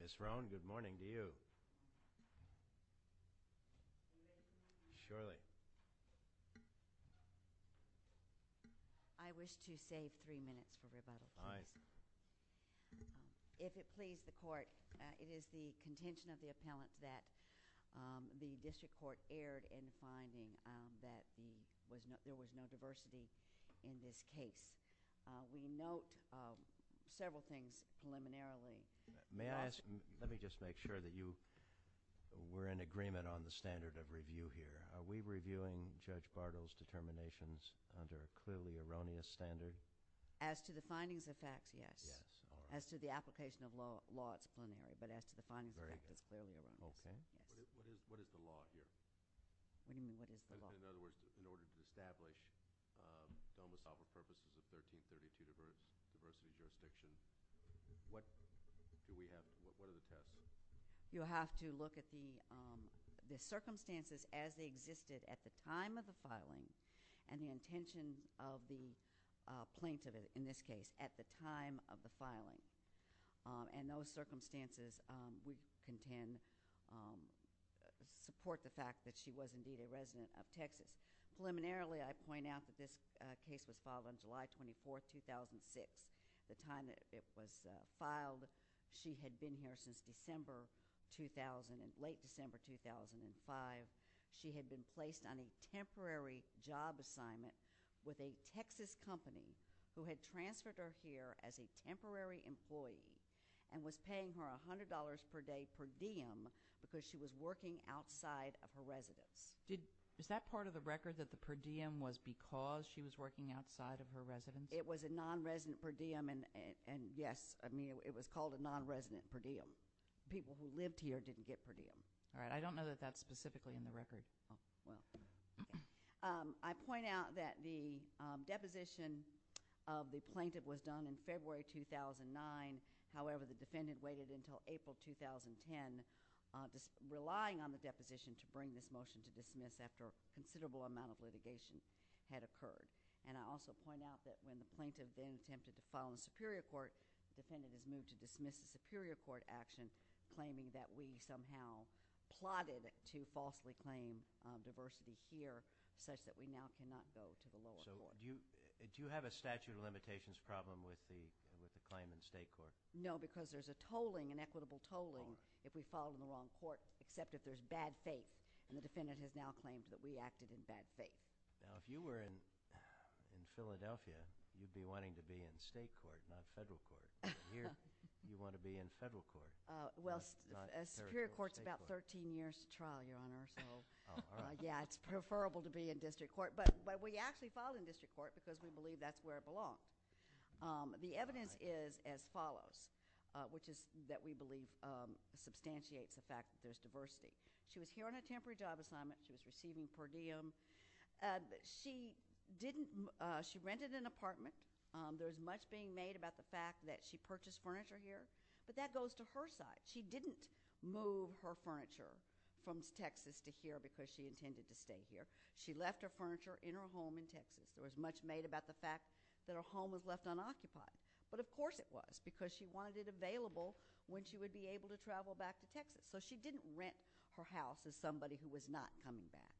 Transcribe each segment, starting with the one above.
Miss Roan, good morning to you. Surely. I wish to save three minutes for rebuttal. Aye. If it please the court, it is the contention of the appellant that the district court erred in finding that there was no diversity in this case. We note several things preliminarily. May I ask, let me just make sure that you were in agreement on the standard of review here. Are we reviewing Judge Bardo's determinations under a clearly erroneous standard? As to the findings of facts, yes. Yes. As to the application of law, it's preliminary. But as to the findings of facts, it's clearly erroneous. Okay. What is the law here? What do you mean, what is the law? In other words, in order to establish domicile for purposes of 1332 diversity jurisdiction, what do we have, what are the tests? You'll have to look at the circumstances as they existed at the time of the filing and the intention of the plaintiff, in this case, at the time of the filing. And those circumstances we contend support the fact that she was indeed a resident of Texas. Preliminarily, I point out that this case was filed on July 24th, 2006, the time that it was filed. She had been here since December 2000, late December 2005. She had been placed on a temporary job assignment with a Texas company who had transferred her here as a temporary employee and was paying her $100 per day per diem because she was working outside of her residence. Is that part of the record, that the per diem was because she was working outside of her residence? It was a nonresident per diem, and yes, I mean, it was called a nonresident per diem. People who lived here didn't get per diem. All right, I don't know that that's specifically in the record. I point out that the deposition of the plaintiff was done in February 2009. However, the defendant waited until April 2010, relying on the deposition to bring this motion to dismiss after a considerable amount of litigation had occurred. And I also point out that when the plaintiff then attempted to file in the Superior Court, the defendant was moved to dismiss the Superior Court action, claiming that we somehow plotted to falsely claim diversity here, such that we now cannot go to the lower court. So do you have a statute of limitations problem with the claim in the state court? No, because there's a tolling, an equitable tolling, if we filed in the wrong court, except if there's bad faith. And the defendant has now claimed that we acted in bad faith. Now, if you were in Philadelphia, you'd be wanting to be in state court, not federal court. Here, you want to be in federal court. Well, Superior Court's about 13 years to trial, Your Honor, so yeah, it's preferable to be in district court. But we actually filed in district court because we believe that's where it belonged. The evidence is as follows, which is that we believe substantiates the fact that there's diversity. She was here on a temporary job assignment. She was receiving per diem. She didn't – she rented an apartment. There was much being made about the fact that she purchased furniture here, but that goes to her side. She didn't move her furniture from Texas to here because she intended to stay here. She left her furniture in her home in Texas. There was much made about the fact that her home was left unoccupied. But of course it was, because she wanted it available when she would be able to travel back to Texas. So she didn't rent her house as somebody who was not coming back.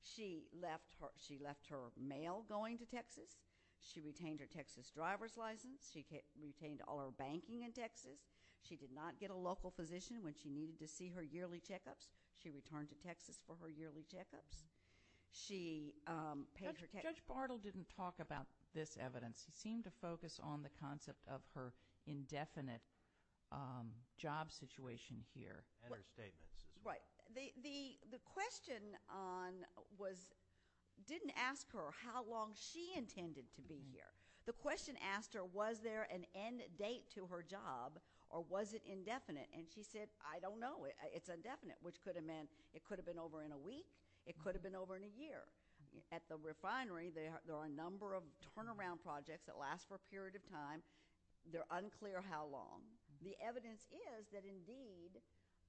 She left her mail going to Texas. She retained her Texas driver's license. She retained all her banking in Texas. She did not get a local position when she needed to see her yearly checkups. She returned to Texas for her yearly checkups. She paid her – Judge Bartle didn't talk about this evidence. He seemed to focus on the concept of her indefinite job situation here. And her statements. Right. The question on – didn't ask her how long she intended to be here. The question asked her was there an end date to her job or was it indefinite. And she said, I don't know. It's indefinite, which could have meant it could have been over in a week. It could have been over in a year. At the refinery, there are a number of turnaround projects that last for a period of time. They're unclear how long. The evidence is that, indeed,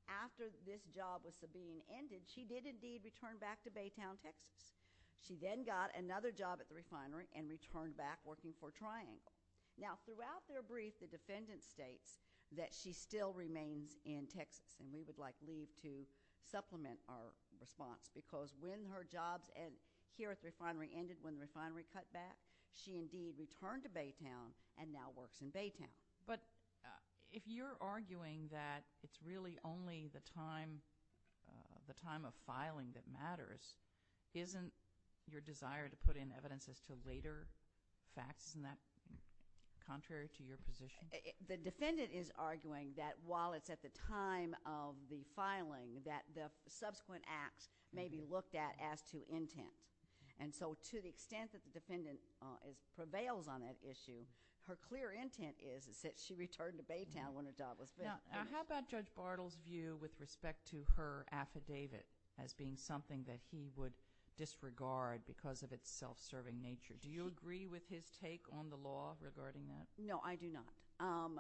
after this job was being ended, she did, indeed, return back to Baytown, Texas. She then got another job at the refinery and returned back working for Triangle. Now, throughout their brief, the defendant states that she still remains in Texas. And we would like Lee to supplement our response. Because when her jobs here at the refinery ended, when the refinery cut back, she, indeed, returned to Baytown and now works in Baytown. But if you're arguing that it's really only the time of filing that matters, isn't your desire to put in evidence as to later facts, isn't that contrary to your position? The defendant is arguing that while it's at the time of the filing, that the subsequent acts may be looked at as to intent. And so to the extent that the defendant prevails on that issue, her clear intent is that she returned to Baytown when the job was finished. Now, how about Judge Bartle's view with respect to her affidavit as being something that he would disregard because of its self-serving nature? Do you agree with his take on the law regarding that? No, I do not.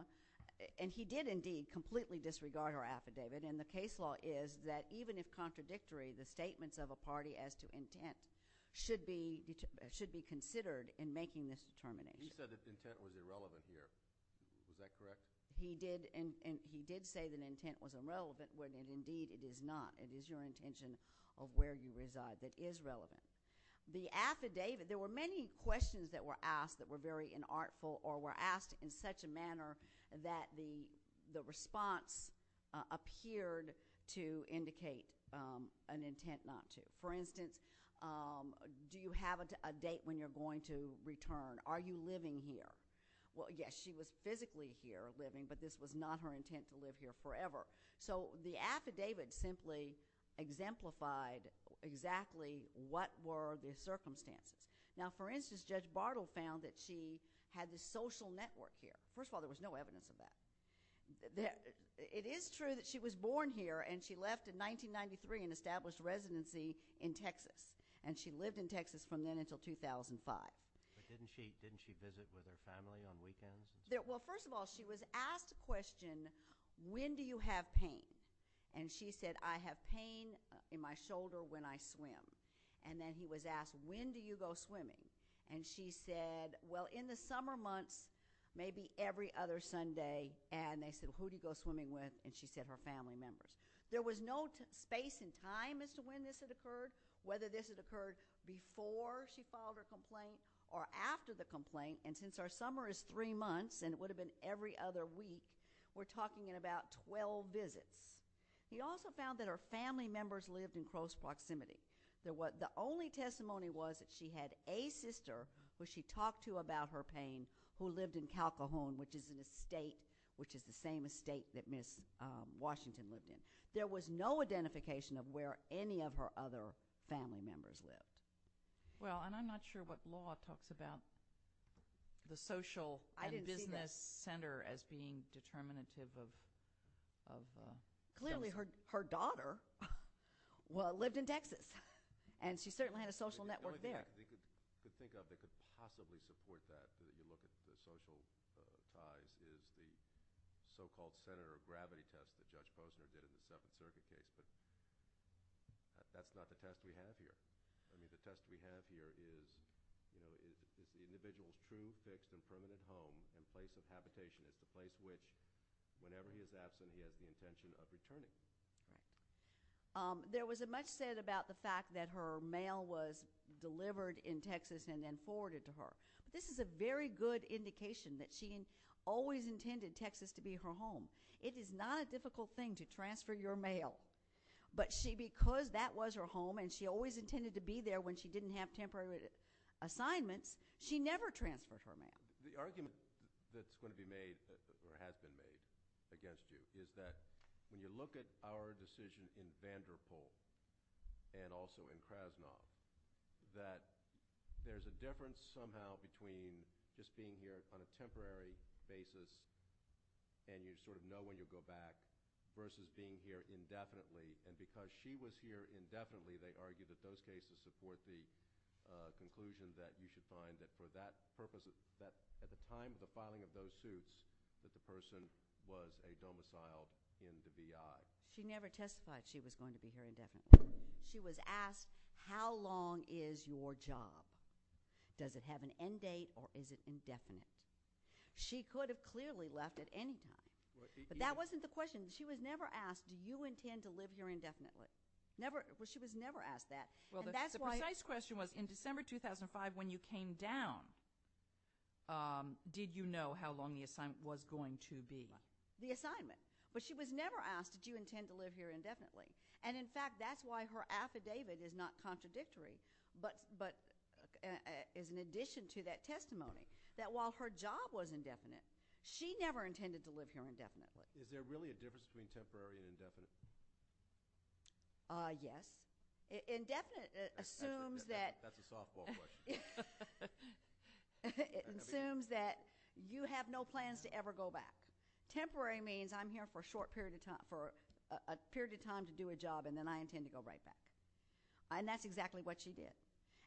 And he did, indeed, completely disregard her affidavit. And the case law is that even if contradictory, the statements of a party as to intent should be considered in making this determination. He said that intent was irrelevant here. Is that correct? He did. And he did say that intent was irrelevant when, indeed, it is not. It is your intention of where you reside that is relevant. The affidavit, there were many questions that were asked that were very inartful or were asked in such a manner that the response appeared to indicate an intent not to. For instance, do you have a date when you're going to return? Are you living here? Well, yes, she was physically here living, but this was not her intent to live here forever. So the affidavit simply exemplified exactly what were the circumstances. Now, for instance, Judge Bartle found that she had this social network here. First of all, there was no evidence of that. It is true that she was born here and she left in 1993 and established residency in Texas. And she lived in Texas from then until 2005. But didn't she visit with her family on weekends? Well, first of all, she was asked a question, when do you have pain? And she said, I have pain in my shoulder when I swim. And then he was asked, when do you go swimming? And she said, well, in the summer months, maybe every other Sunday. And they said, well, who do you go swimming with? And she said her family members. There was no space and time as to when this had occurred, whether this had occurred before she filed her complaint or after the complaint. And since our summer is three months and it would have been every other week, we're talking in about 12 visits. He also found that her family members lived in close proximity. The only testimony was that she had a sister who she talked to about her pain, who lived in Calcahon, which is an estate, which is the same estate that Miss Washington lived in. There was no identification of where any of her other family members lived. Well, and I'm not sure what law talks about the social and business center as being determinative of justice. Clearly, her daughter lived in Texas, and she certainly had a social network there. The only thing I could think of that could possibly support that, when you look at the social ties, is the so-called center of gravity test that Judge Posner did in the Suffolk Circuit case. That's not the test we have here. I mean, the test we have here is, you know, if the individual is seen fixed in permanent home in place of habitation, it's the place which, whenever he is absent, he has the intention of returning. There was much said about the fact that her mail was delivered in Texas and then forwarded to her. This is a very good indication that she always intended Texas to be her home. It is not a difficult thing to transfer your mail, but she, because that was her home and she always intended to be there when she didn't have temporary assignments, she never transferred her mail. The argument that's going to be made or has been made against you is that, when you look at our decision in Vanderpool and also in Krasnov, that there's a difference somehow between just being here on a temporary basis and you sort of know when you'll go back versus being here indefinitely. And because she was here indefinitely, they argue that those cases support the conclusion that you should find that for that purpose, that at the time of the filing of those suits, that the person was a domicile in the DI. She never testified she was going to be here indefinitely. She was asked, how long is your job? Does it have an end date or is it indefinite? She could have clearly left at any time. But that wasn't the question. She was never asked, do you intend to live here indefinitely? She was never asked that. The precise question was, in December 2005, when you came down, did you know how long the assignment was going to be? The assignment. But she was never asked, did you intend to live here indefinitely? And in fact, that's why her affidavit is not contradictory, but is in addition to that testimony, that while her job was indefinite, she never intended to live here indefinitely. Is there really a difference between temporary and indefinite? Yes. Indefinite assumes that. That's a softball question. It assumes that you have no plans to ever go back. Temporary means I'm here for a short period of time, for a period of time to do a job and then I intend to go right back. And that's exactly what she did.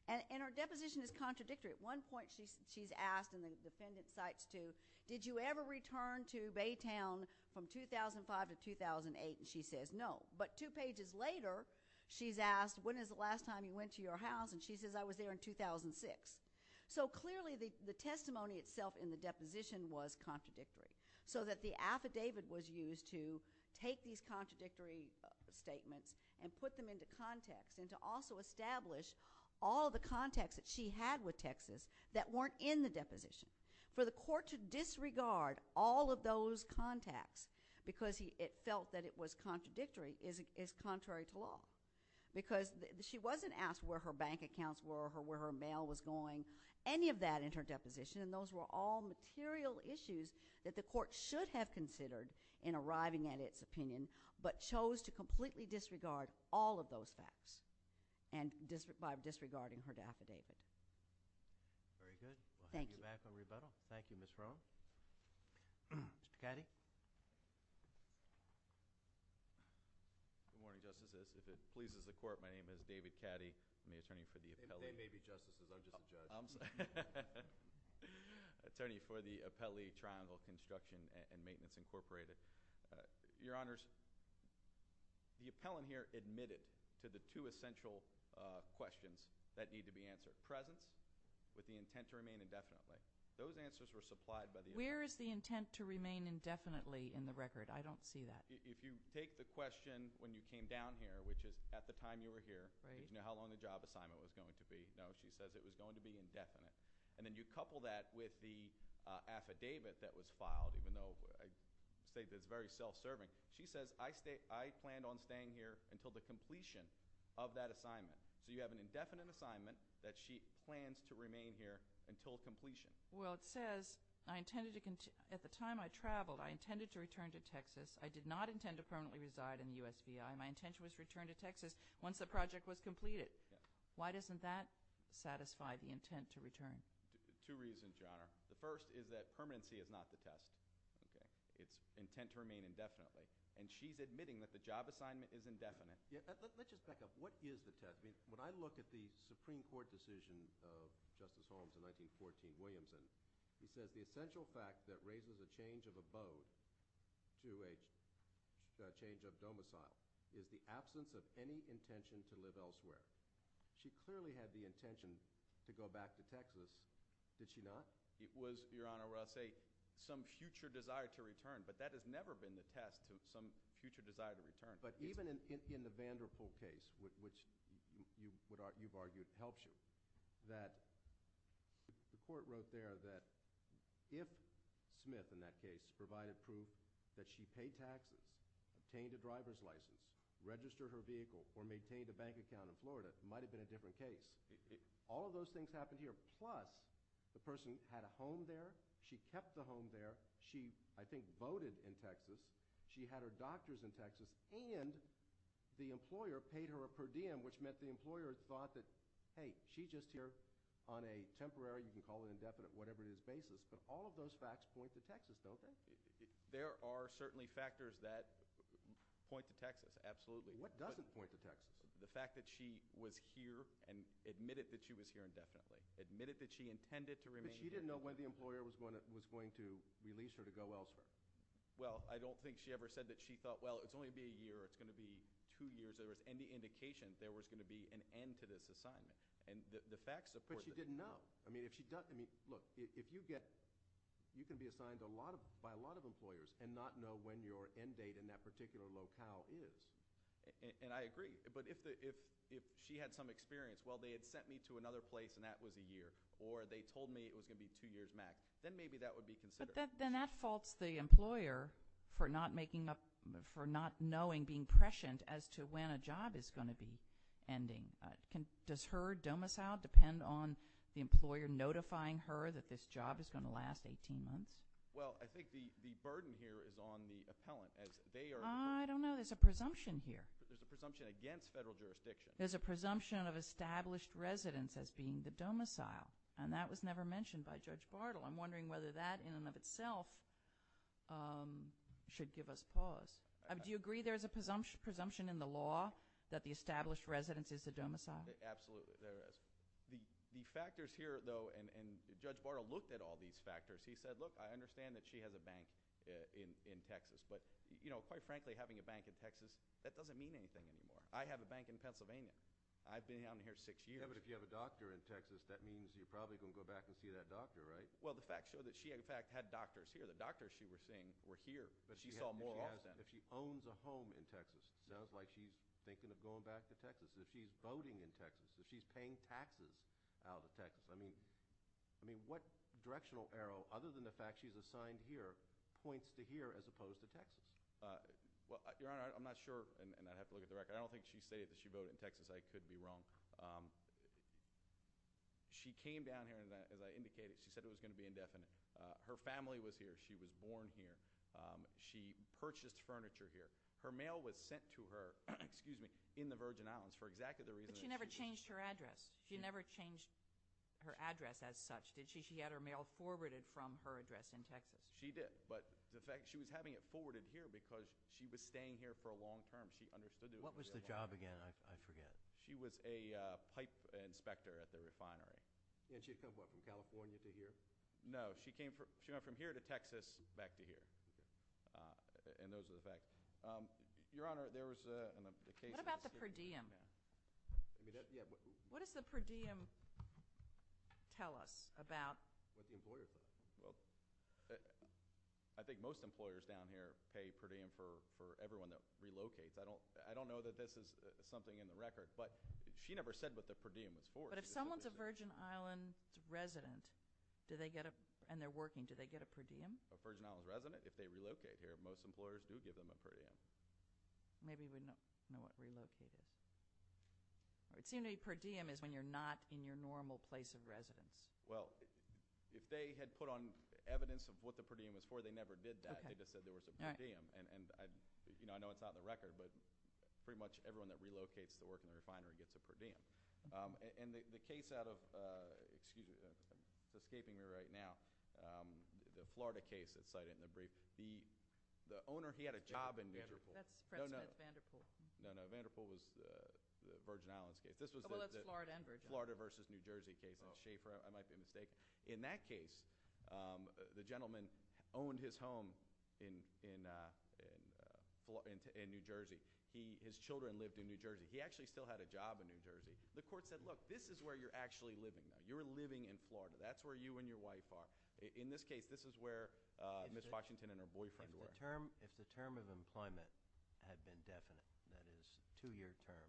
And her deposition is contradictory. At one point, she's asked and the defendant cites to, did you ever return to Baytown from 2005 to 2008? And she says no. But two pages later, she's asked, when is the last time you went to your house? And she says, I was there in 2006. So clearly, the testimony itself in the deposition was contradictory. So that the affidavit was used to take these contradictory statements and put them into context. And to also establish all the context that she had with Texas that weren't in the deposition. For the court to disregard all of those contacts because it felt that it was contradictory is contrary to law. Because she wasn't asked where her bank accounts were or where her mail was going, any of that in her deposition. And those were all material issues that the court should have considered in arriving at its opinion but chose to completely disregard all of those facts. And by disregarding her affidavit. Very good. Thank you. We'll have you back on rebuttal. Thank you, Ms. Rohn. Mr. Cady. Good morning, Justices. If it pleases the court, my name is David Cady. I'm the attorney for the appellee. If they may be justices, I'm just a judge. I'm sorry. Attorney for the Appellee Triangle Construction and Maintenance Incorporated. Your Honors. The appellant here admitted to the two essential questions that need to be answered. Presence with the intent to remain indefinitely. Those answers were supplied by the appellant. Where is the intent to remain indefinitely in the record? I don't see that. If you take the question when you came down here, which is at the time you were here. Right. You know how long the job assignment was going to be. No, she says it was going to be indefinite. And then you couple that with the affidavit that was filed, even though I state that it's very self-serving. She says, I planned on staying here until the completion of that assignment. So you have an indefinite assignment that she plans to remain here until completion. Well, it says, at the time I traveled, I intended to return to Texas. I did not intend to permanently reside in the USVI. My intention was to return to Texas once the project was completed. Why doesn't that satisfy the intent to return? Two reasons, Your Honor. The first is that permanency is not the test. It's intent to remain indefinitely. And she's admitting that the job assignment is indefinite. Let's just back up. What is the test? When I look at the Supreme Court decision of Justice Holmes in 1914, Williamson, he says the essential fact that raises a change of abode to a change of domicile is the absence of any intention to live elsewhere. She clearly had the intention to go back to Texas. Did she not? It was, Your Honor, some future desire to return. But that has never been the test of some future desire to return. But even in the Vanderpool case, which you've argued helps you, the court wrote there that if Smith, in that case, provided proof that she paid taxes, obtained a driver's license, registered her vehicle, or maintained a bank account in Florida, it might have been a different case. All of those things happened here. She kept the home there. She, I think, voted in Texas. She had her doctors in Texas. And the employer paid her a per diem, which meant the employer thought that, hey, she's just here on a temporary, you can call it indefinite, whatever it is, basis. But all of those facts point to Texas, don't they? There are certainly factors that point to Texas, absolutely. What doesn't point to Texas? The fact that she was here and admitted that she was here indefinitely, admitted that she intended to remain here. But she didn't know when the employer was going to release her to go elsewhere. She thought, well, it's only going to be a year or it's going to be two years, or if there was any indication there was going to be an end to this assignment. But she didn't know. Look, if you get, you can be assigned by a lot of employers and not know when your end date in that particular locale is. And I agree. But if she had some experience, well, they had sent me to another place and that was a year, or they told me it was going to be two years max, then maybe that would be considered. But for not knowing, being prescient as to when a job is going to be ending, does her domicile depend on the employer notifying her that this job is going to last 18 months? Well, I think the burden here is on the appellant. I don't know. There's a presumption here. There's a presumption against federal jurisdiction. There's a presumption of established residence as being the domicile. And that was never mentioned by Judge Bartle. I'm wondering whether that in and of itself should give us pause. Do you agree there's a presumption in the law that the established residence is the domicile? Absolutely, there is. The factors here, though, and Judge Bartle looked at all these factors. He said, look, I understand that she has a bank in Texas. But quite frankly, having a bank in Texas, that doesn't mean anything anymore. I have a bank in Pennsylvania. I've been down here six years. Yeah, but if you have a doctor in Texas, that means you're probably going to go back and see that doctor, right? Well, the facts show that she, in fact, had doctors here. The doctors she was seeing were here, but she saw more of them. Yeah, but if she owns a home in Texas, that's like she's thinking of going back to Texas. If she's voting in Texas, if she's paying taxes out of Texas, I mean, what directional arrow, other than the fact she's assigned here, points to here as opposed to Texas? Well, Your Honor, I'm not sure, and I'd have to look at the record. I don't think she stated that she voted in Texas. I could be wrong. She came down here, and as I indicated, I'm not going to be indefinite. Her family was here. She was born here. She purchased furniture here. Her mail was sent to her, excuse me, in the Virgin Islands for exactly the reason. But she never changed her address. She never changed her address as such, did she? She had her mail forwarded from her address in Texas. She did, but the fact, she was having it forwarded here because she was staying here for a long term. What was the job again? I forget. She was a pipe inspector at the refinery. And she had come up from California to here? No. She went from here to Texas, back to here. And those are the facts. Your Honor, there was an occasion. What about the per diem? What does the per diem tell us about? I think most employers down here pay per diem for everyone that relocates. I don't know that this is something in the record, but she never said what the per diem was for. But if someone's a Virgin Islander, a Virgin Island resident, and they're working, do they get a per diem? A Virgin Island resident? If they relocate here, most employers do give them a per diem. Maybe we don't know what relocated is. It seemed to me per diem is when you're not in your normal place of residence. Well, if they had put on evidence of what the per diem was for, they never did that. They just said there was a per diem. And I know it's not in the record, but pretty much everyone that relocates to work in the refinery gets a per diem. Excuse me. I'm escaping here right now. The Florida case that's cited in the brief, the owner, he had a job in Vanderpool. That's President Vanderpool. No, no. Vanderpool was the Virgin Islands case. Oh, well, that's Florida and Virgin Islands. This was the Florida versus New Jersey case. I might be mistaken. In that case, the gentleman owned his home in New Jersey. His children lived in New Jersey. He actually still had a job in New Jersey. The court said, look, you're living in Florida. That's where you and your wife are. In this case, this is where Ms. Washington and her boyfriend were. If the term of employment had been definite, that is, two-year term,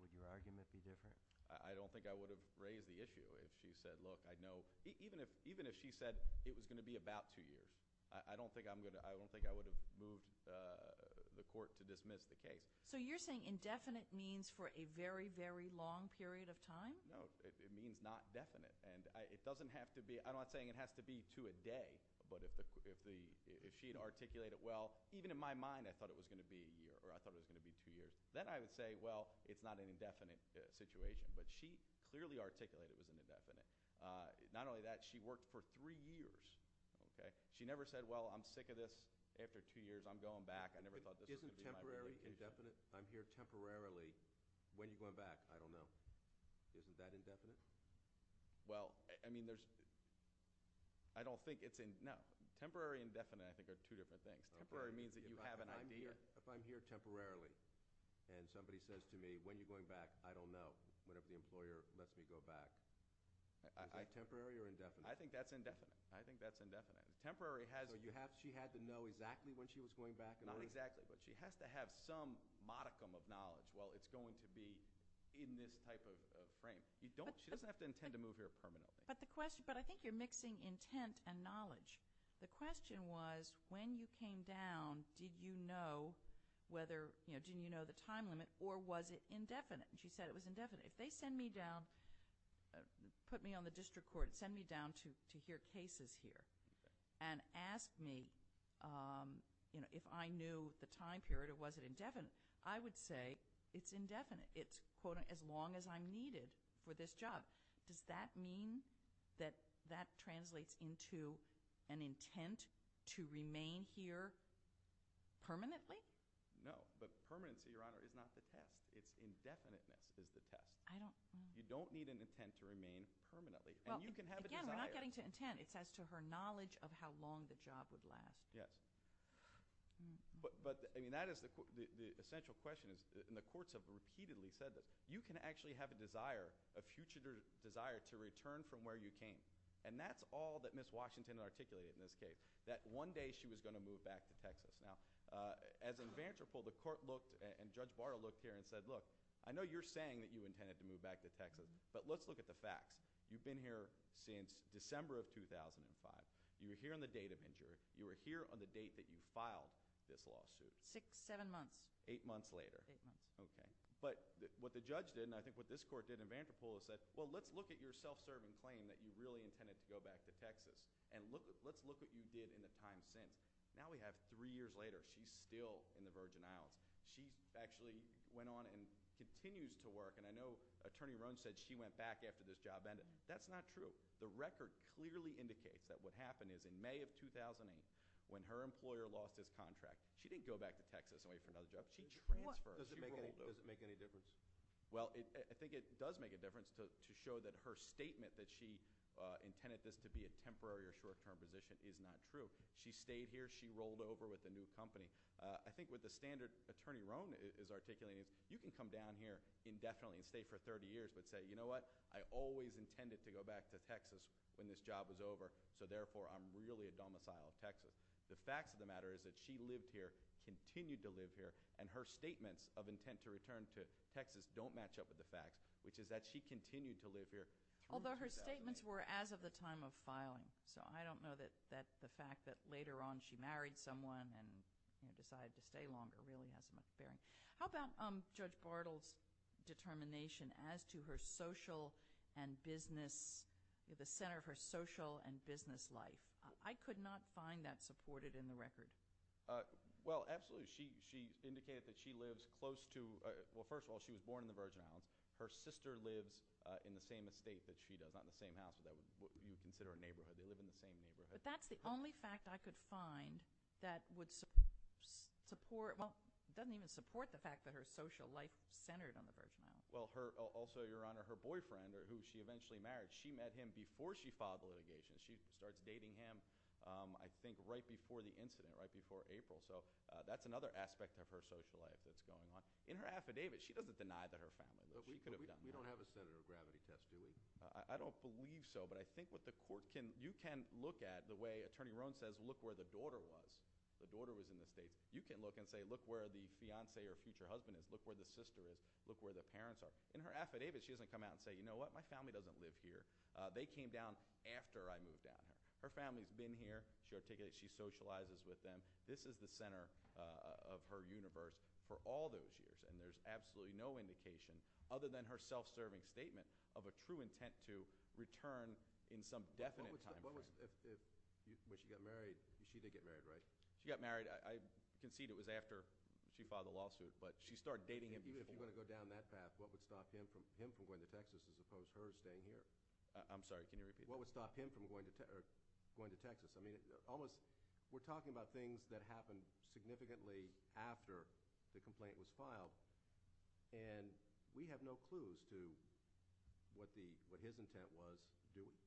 would your argument be different? I don't think I would have raised the issue if she said, look, I know. Even if she said it was going to be about two years, I don't think I would have moved the court to dismiss the case. So you're saying indefinite means for a very, very long period of time? No, it means not definite. And it doesn't have to be, I'm not saying it has to be to a day, but if she had articulated, well, even in my mind, I thought it was going to be a year or I thought it was going to be two years. Then I would say, well, it's not an indefinite situation. But she clearly articulated it was indefinite. Not only that, she worked for three years. She never said, well, I'm sick of this. After two years, I'm going back. I never thought this was going to be my career. Isn't temporary indefinite? Is that indefinite? Well, I mean, there's, I don't think it's, no. Temporary indefinite I think are two different things. Temporary means that you have an idea. If I'm here temporarily and somebody says to me, when you're going back, I don't know, whatever the employer lets me go back, is that temporary or indefinite? I think that's indefinite. I think that's indefinite. Not exactly, but she has to have some modicum of knowledge. She doesn't have to intend to move here permanently. But the question, but I think you're mixing intent and knowledge. The question was, when you came down, did you know whether, didn't you know the time limit, or was it indefinite? And she said it was indefinite. If they send me down, put me on the district court, send me down to hear cases here and ask me if I knew the time period or was it indefinite, I would say it's indefinite. It's, quote, as long as I'm needed for this job. Does that mean that that translates into an intent to remain here permanently? No, but permanency, Your Honor, is not the test. It's indefiniteness is the test. You don't need an intent to remain permanently. And you can have a desire. Again, we're not getting to intent. It's as to her knowledge of how long the job would last. Yes, but that is the essential question. And the courts have repeatedly said that you can actually have a desire, a future desire to return from where you came. And that's all that Ms. Washington articulated in this case, that one day she was going to move back to Texas. Now, as in Vanderpool, the court looked and Judge Barra looked here and said, look, I know you're saying that you intended to move back to Texas, but let's look at the facts. You've been here since December of 2005, and you're here on the date of injury. You were here on the date that you filed this lawsuit. The judge did, and I think what this court did in Vanderpool is said, well, let's look at your self-serving claim that you really intended to go back to Texas, and let's look at what you did in the time since. Now we have three years later, she's still in the Virgin Islands. She actually went on and continues to work. And I know Attorney Rohn said she went back after this job ended. That's not true. The record clearly indicates that what happened is in May of 2008 when her employer lost his contract, she didn't go back to Texas and wait for another job. She transferred. Does it make any difference? Well, I think it does make a difference to show that her statement that she intended this to be a temporary or short-term position is not true. She stayed here. She rolled over with a new company. I think what the standard Attorney Rohn is articulating is you can come down here indefinitely and stay for 30 years but say, you know what, I always intended to go back to Texas when this job was over, so therefore I'm really a domicile of Texas. And her statements of intent to return to Texas don't match up with the fact which is that she continued to live here. Although her statements were as of the time of filing, so I don't know that the fact that later on she married someone and decided to stay longer really has much bearing. How about Judge Bartle's determination as to her social and business, the center of her social and business life? I could not find that supported in the record. Well, absolutely. She indicated that she was born in the Virgin Islands. Her sister lives in the same estate that she does, not in the same house, but what you would consider a neighborhood. They live in the same neighborhood. But that's the only fact I could find that doesn't even support the fact that her social life centered on the Virgin Islands. Well, also, Your Honor, her boyfriend who she eventually married, she met him before she filed the litigation. She starts dating him I think right before the incident, right before April, and that's the center of her social life that's going on. In her affidavit, she doesn't deny that her family lived there. We don't have a center of gravity test, do we? I don't believe so, but I think what the court can, you can look at the way Attorney Rohn says, look where the daughter was. The daughter was in the estate. You can look and say, look where the fiance or future husband is, look where the sister is, look where the parents are. In her affidavit, she's been married for all those years and there's absolutely no indication other than her self-serving statement of a true intent to return in some definite time frame. But she got married. She did get married, right? She got married. I concede it was after she filed the lawsuit, but she started dating him before. Even if you're going to go down that fast, what would stop him from going to Texas as opposed to her staying here? I'm sorry, can you repeat? What would stop him from going to Texas? Because the complaint was filed and we have no clues to what his intent was to do it.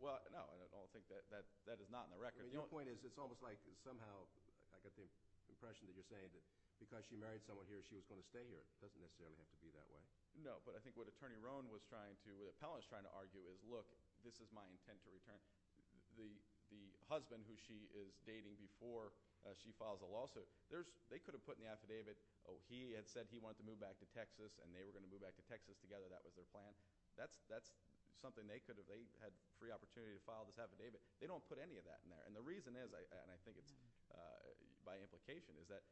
Well, no, I don't think that is not in the record. Your point is it's almost like somehow, I get the impression that you're saying that because she married someone here, she was going to stay here. Doesn't necessarily have to be that way. No, but I think what Attorney Rohn was trying to, what the appellant was trying to argue is, look, this is my intent to return. The husband who she is dating before she files the lawsuit, they could have put in the affidavit, he had said he wanted to move back to Texas and they were going to move back to Texas together. That was their plan. That's something they could have, they had free opportunity to file this affidavit. They don't put any of that in there. And the reason is, and I think it's by implication, is that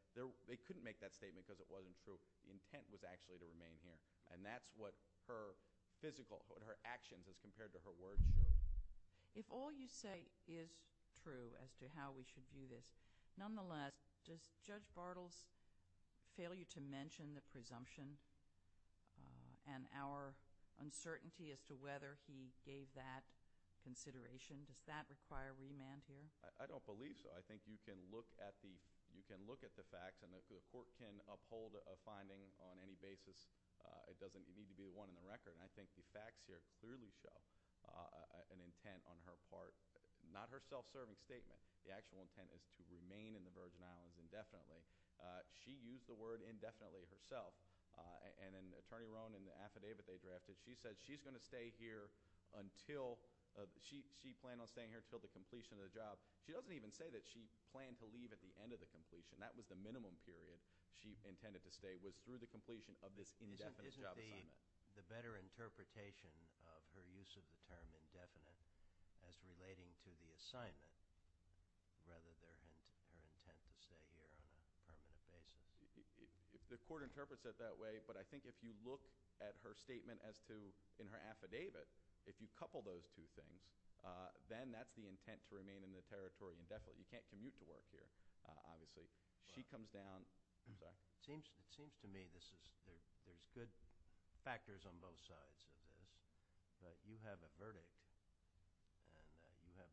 they couldn't make that statement because it wasn't true. The intent was actually to remain here. And that's what her physical, what her actions as compared to her words show. If all you say is true then you can't do this. Nonetheless, does Judge Bartels' failure to mention the presumption and our uncertainty as to whether he gave that consideration, does that require remand here? I don't believe so. I think you can look at the facts and if the court can uphold a finding on any basis, it doesn't need to be one in the record. And I think the facts here clearly show an intent on her part, not her self-serving statement, the actual intent is to remain here. To remain in the Virgin Islands indefinitely. She used the word indefinitely herself. And Attorney Rohn, in the affidavit they drafted, she said she's going to stay here until, she planned on staying here until the completion of the job. She doesn't even say that she planned to leave at the end of the completion. That was the minimum period she intended to stay, was through the completion of this indefinite job assignment. Isn't the better interpretation of her use of the term indefinite as relating to the assignment, her intent to stay here on a permanent basis? The court interprets it that way, but I think if you look at her statement as to, in her affidavit, if you couple those two things, then that's the intent to remain in the territory indefinitely. You can't commute to work here, obviously. She comes down. It seems to me there's good factors on both sides of this, that you have a verdict and you have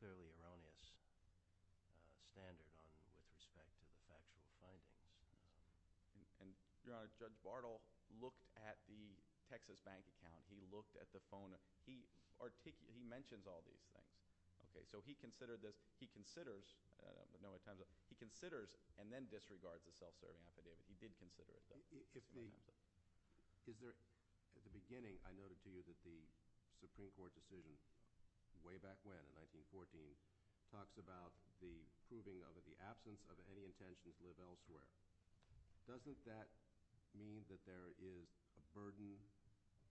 clearly erroneous evidence that's not standard on you with respect to the factual findings. Your Honor, Judge Bartle looked at the Texas bank account. He looked at the phone. He mentions all these things. Okay, so he considered this. He considers, he considers and then disregards the self-serving affidavit. He did consider it. At the beginning, I noted to you that the Supreme Court decision way back when, in 1914, talks about the proving of the absence of any intention to live elsewhere. Doesn't that mean that there is a burden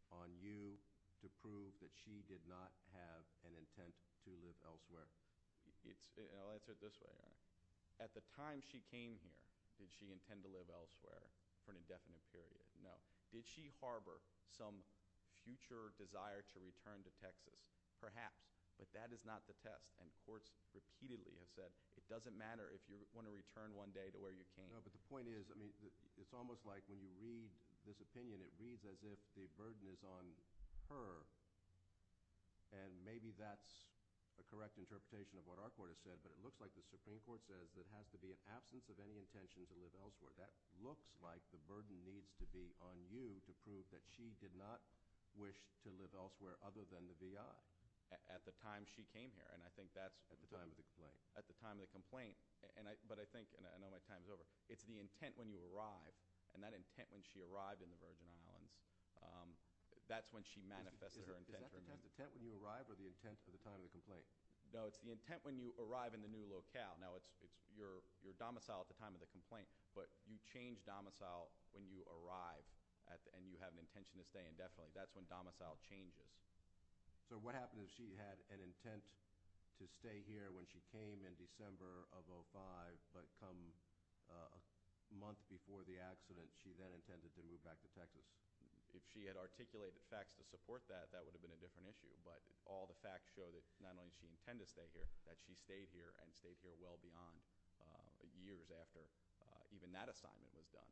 on you to prove that she did not have an intent to live elsewhere? I'll answer it this way, Your Honor. At the time she came here, did she intend to live elsewhere for an indefinite period? No. Did she harbor some future desire to return to Texas? Perhaps, but that is not the test. And courts repeatedly have said it doesn't matter if you want to return one day to where you came. No, but the point is, it's almost like when you read this opinion, it reads as if the burden is on her. And maybe that's a correct interpretation of what our court has said, but it looks like the Supreme Court says there has to be an absence of any intention to live elsewhere. That looks like the burden needs to be on you at the time she came here. At the time of the complaint. At the time of the complaint. But I think, and I know my time is over, it's the intent when you arrive, and that intent when she arrived in the Virgin Islands, that's when she manifested her intent. Is that the intent when you arrive or the intent for the time of the complaint? No, it's the intent when you arrive in the new locale. Now, it's your domicile at the time of the complaint, but you change domicile at the time of the complaint. What would happen if she had an intent to stay here when she came in December of 05, but come a month before the accident, she then intended to move back to Texas? If she had articulated facts to support that, that would have been a different issue, but all the facts show that not only did she intend to stay here, that she stayed here and stayed here well beyond years after even that assignment was done,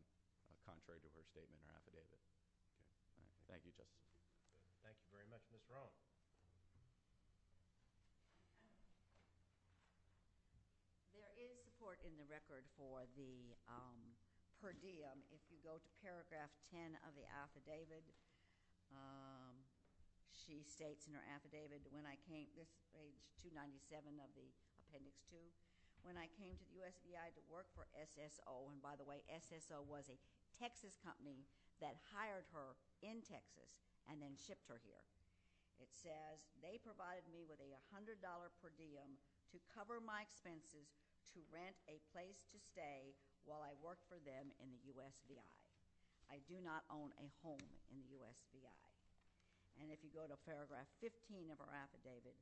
contrary to her statement in the record. There is support in the record for the per diem. If you go to paragraph 10 of the affidavit, she states in her affidavit, when I came, this is page 297 of the appendix 2, when I came to the USBI to work for SSO, and by the way, SSO was a Texas company that hired her in Texas and then shipped her here. They provided me with a $100 per diem to cover my expenses to rent a place to stay while I worked for them in the USBI. I do not own a home in the USBI. And if you go to paragraph 15 of her affidavit,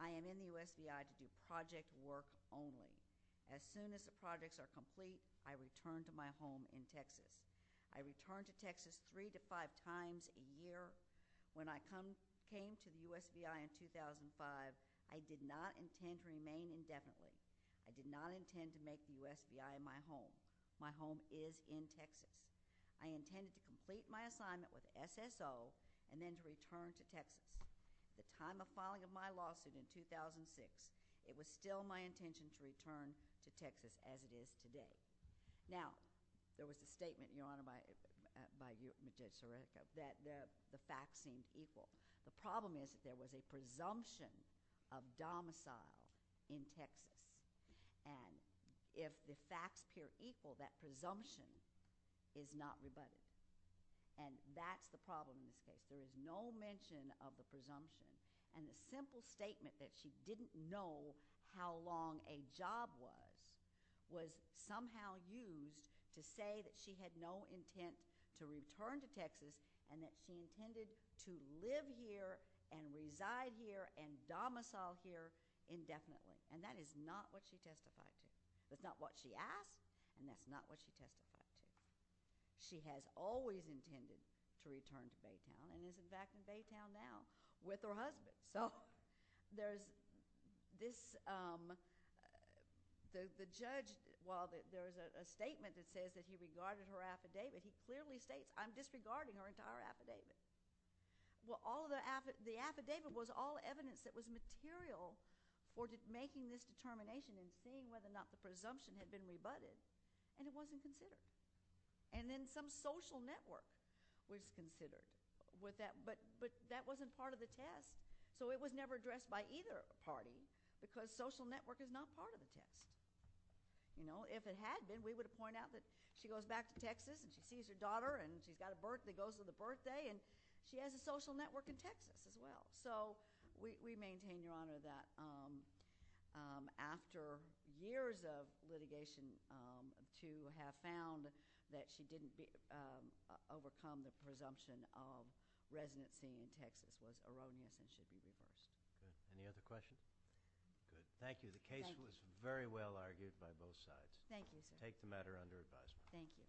I am in the USBI to do project work only. As soon as the projects are complete, I return to my home in Texas. I return to Texas three to five times a year. When I came to the USBI in 2005, I did not intend to remain indefinitely. I did not intend to make the USBI my home. My home is in Texas. I intended to complete my assignment with SSO and then to return to Texas. At the time of filing of my lawsuit in 2006, it was still my intention to return to Texas as it is today. Now, there was a statement, Your Honor, that the facts seemed equal. The problem is there is no mention of the presumption of domicile in Texas. And if the facts appear equal, that presumption is not rebutted. And that's the problem in this case. There is no mention of the presumption. And the simple statement that she didn't know how long a job was, was somehow used to say that she had no intent to return to Texas and that she intended to remain here and domicile here indefinitely. And that is not what she testified to. That's not what she asked and that's not what she testified to. She has always intended to return to Baytown and is in fact in Baytown now with her husband. So, there's this, the judge, well, there's a statement that says that he regarded her affidavit. He clearly states, I'm disregarding her entire affidavit. There was evidence that was material for making this determination and seeing whether or not the presumption had been rebutted and it wasn't considered. And then some social network was considered. But that wasn't part of the test so it was never addressed by either party because social network is not part of the test. You know, if it had been, we would have pointed out that she goes back to Texas and she sees her daughter and she's got a birth, that goes with the birthday and she has a social network in Texas as well. So, we maintain, Your Honor, that after years of litigation to have found that she didn't overcome the presumption of residency in Texas was erroneous and should be reversed. Any other questions? Thank you. The case was very well argued by both sides. Thank you, sir. Take the matter under advisement. Thank you.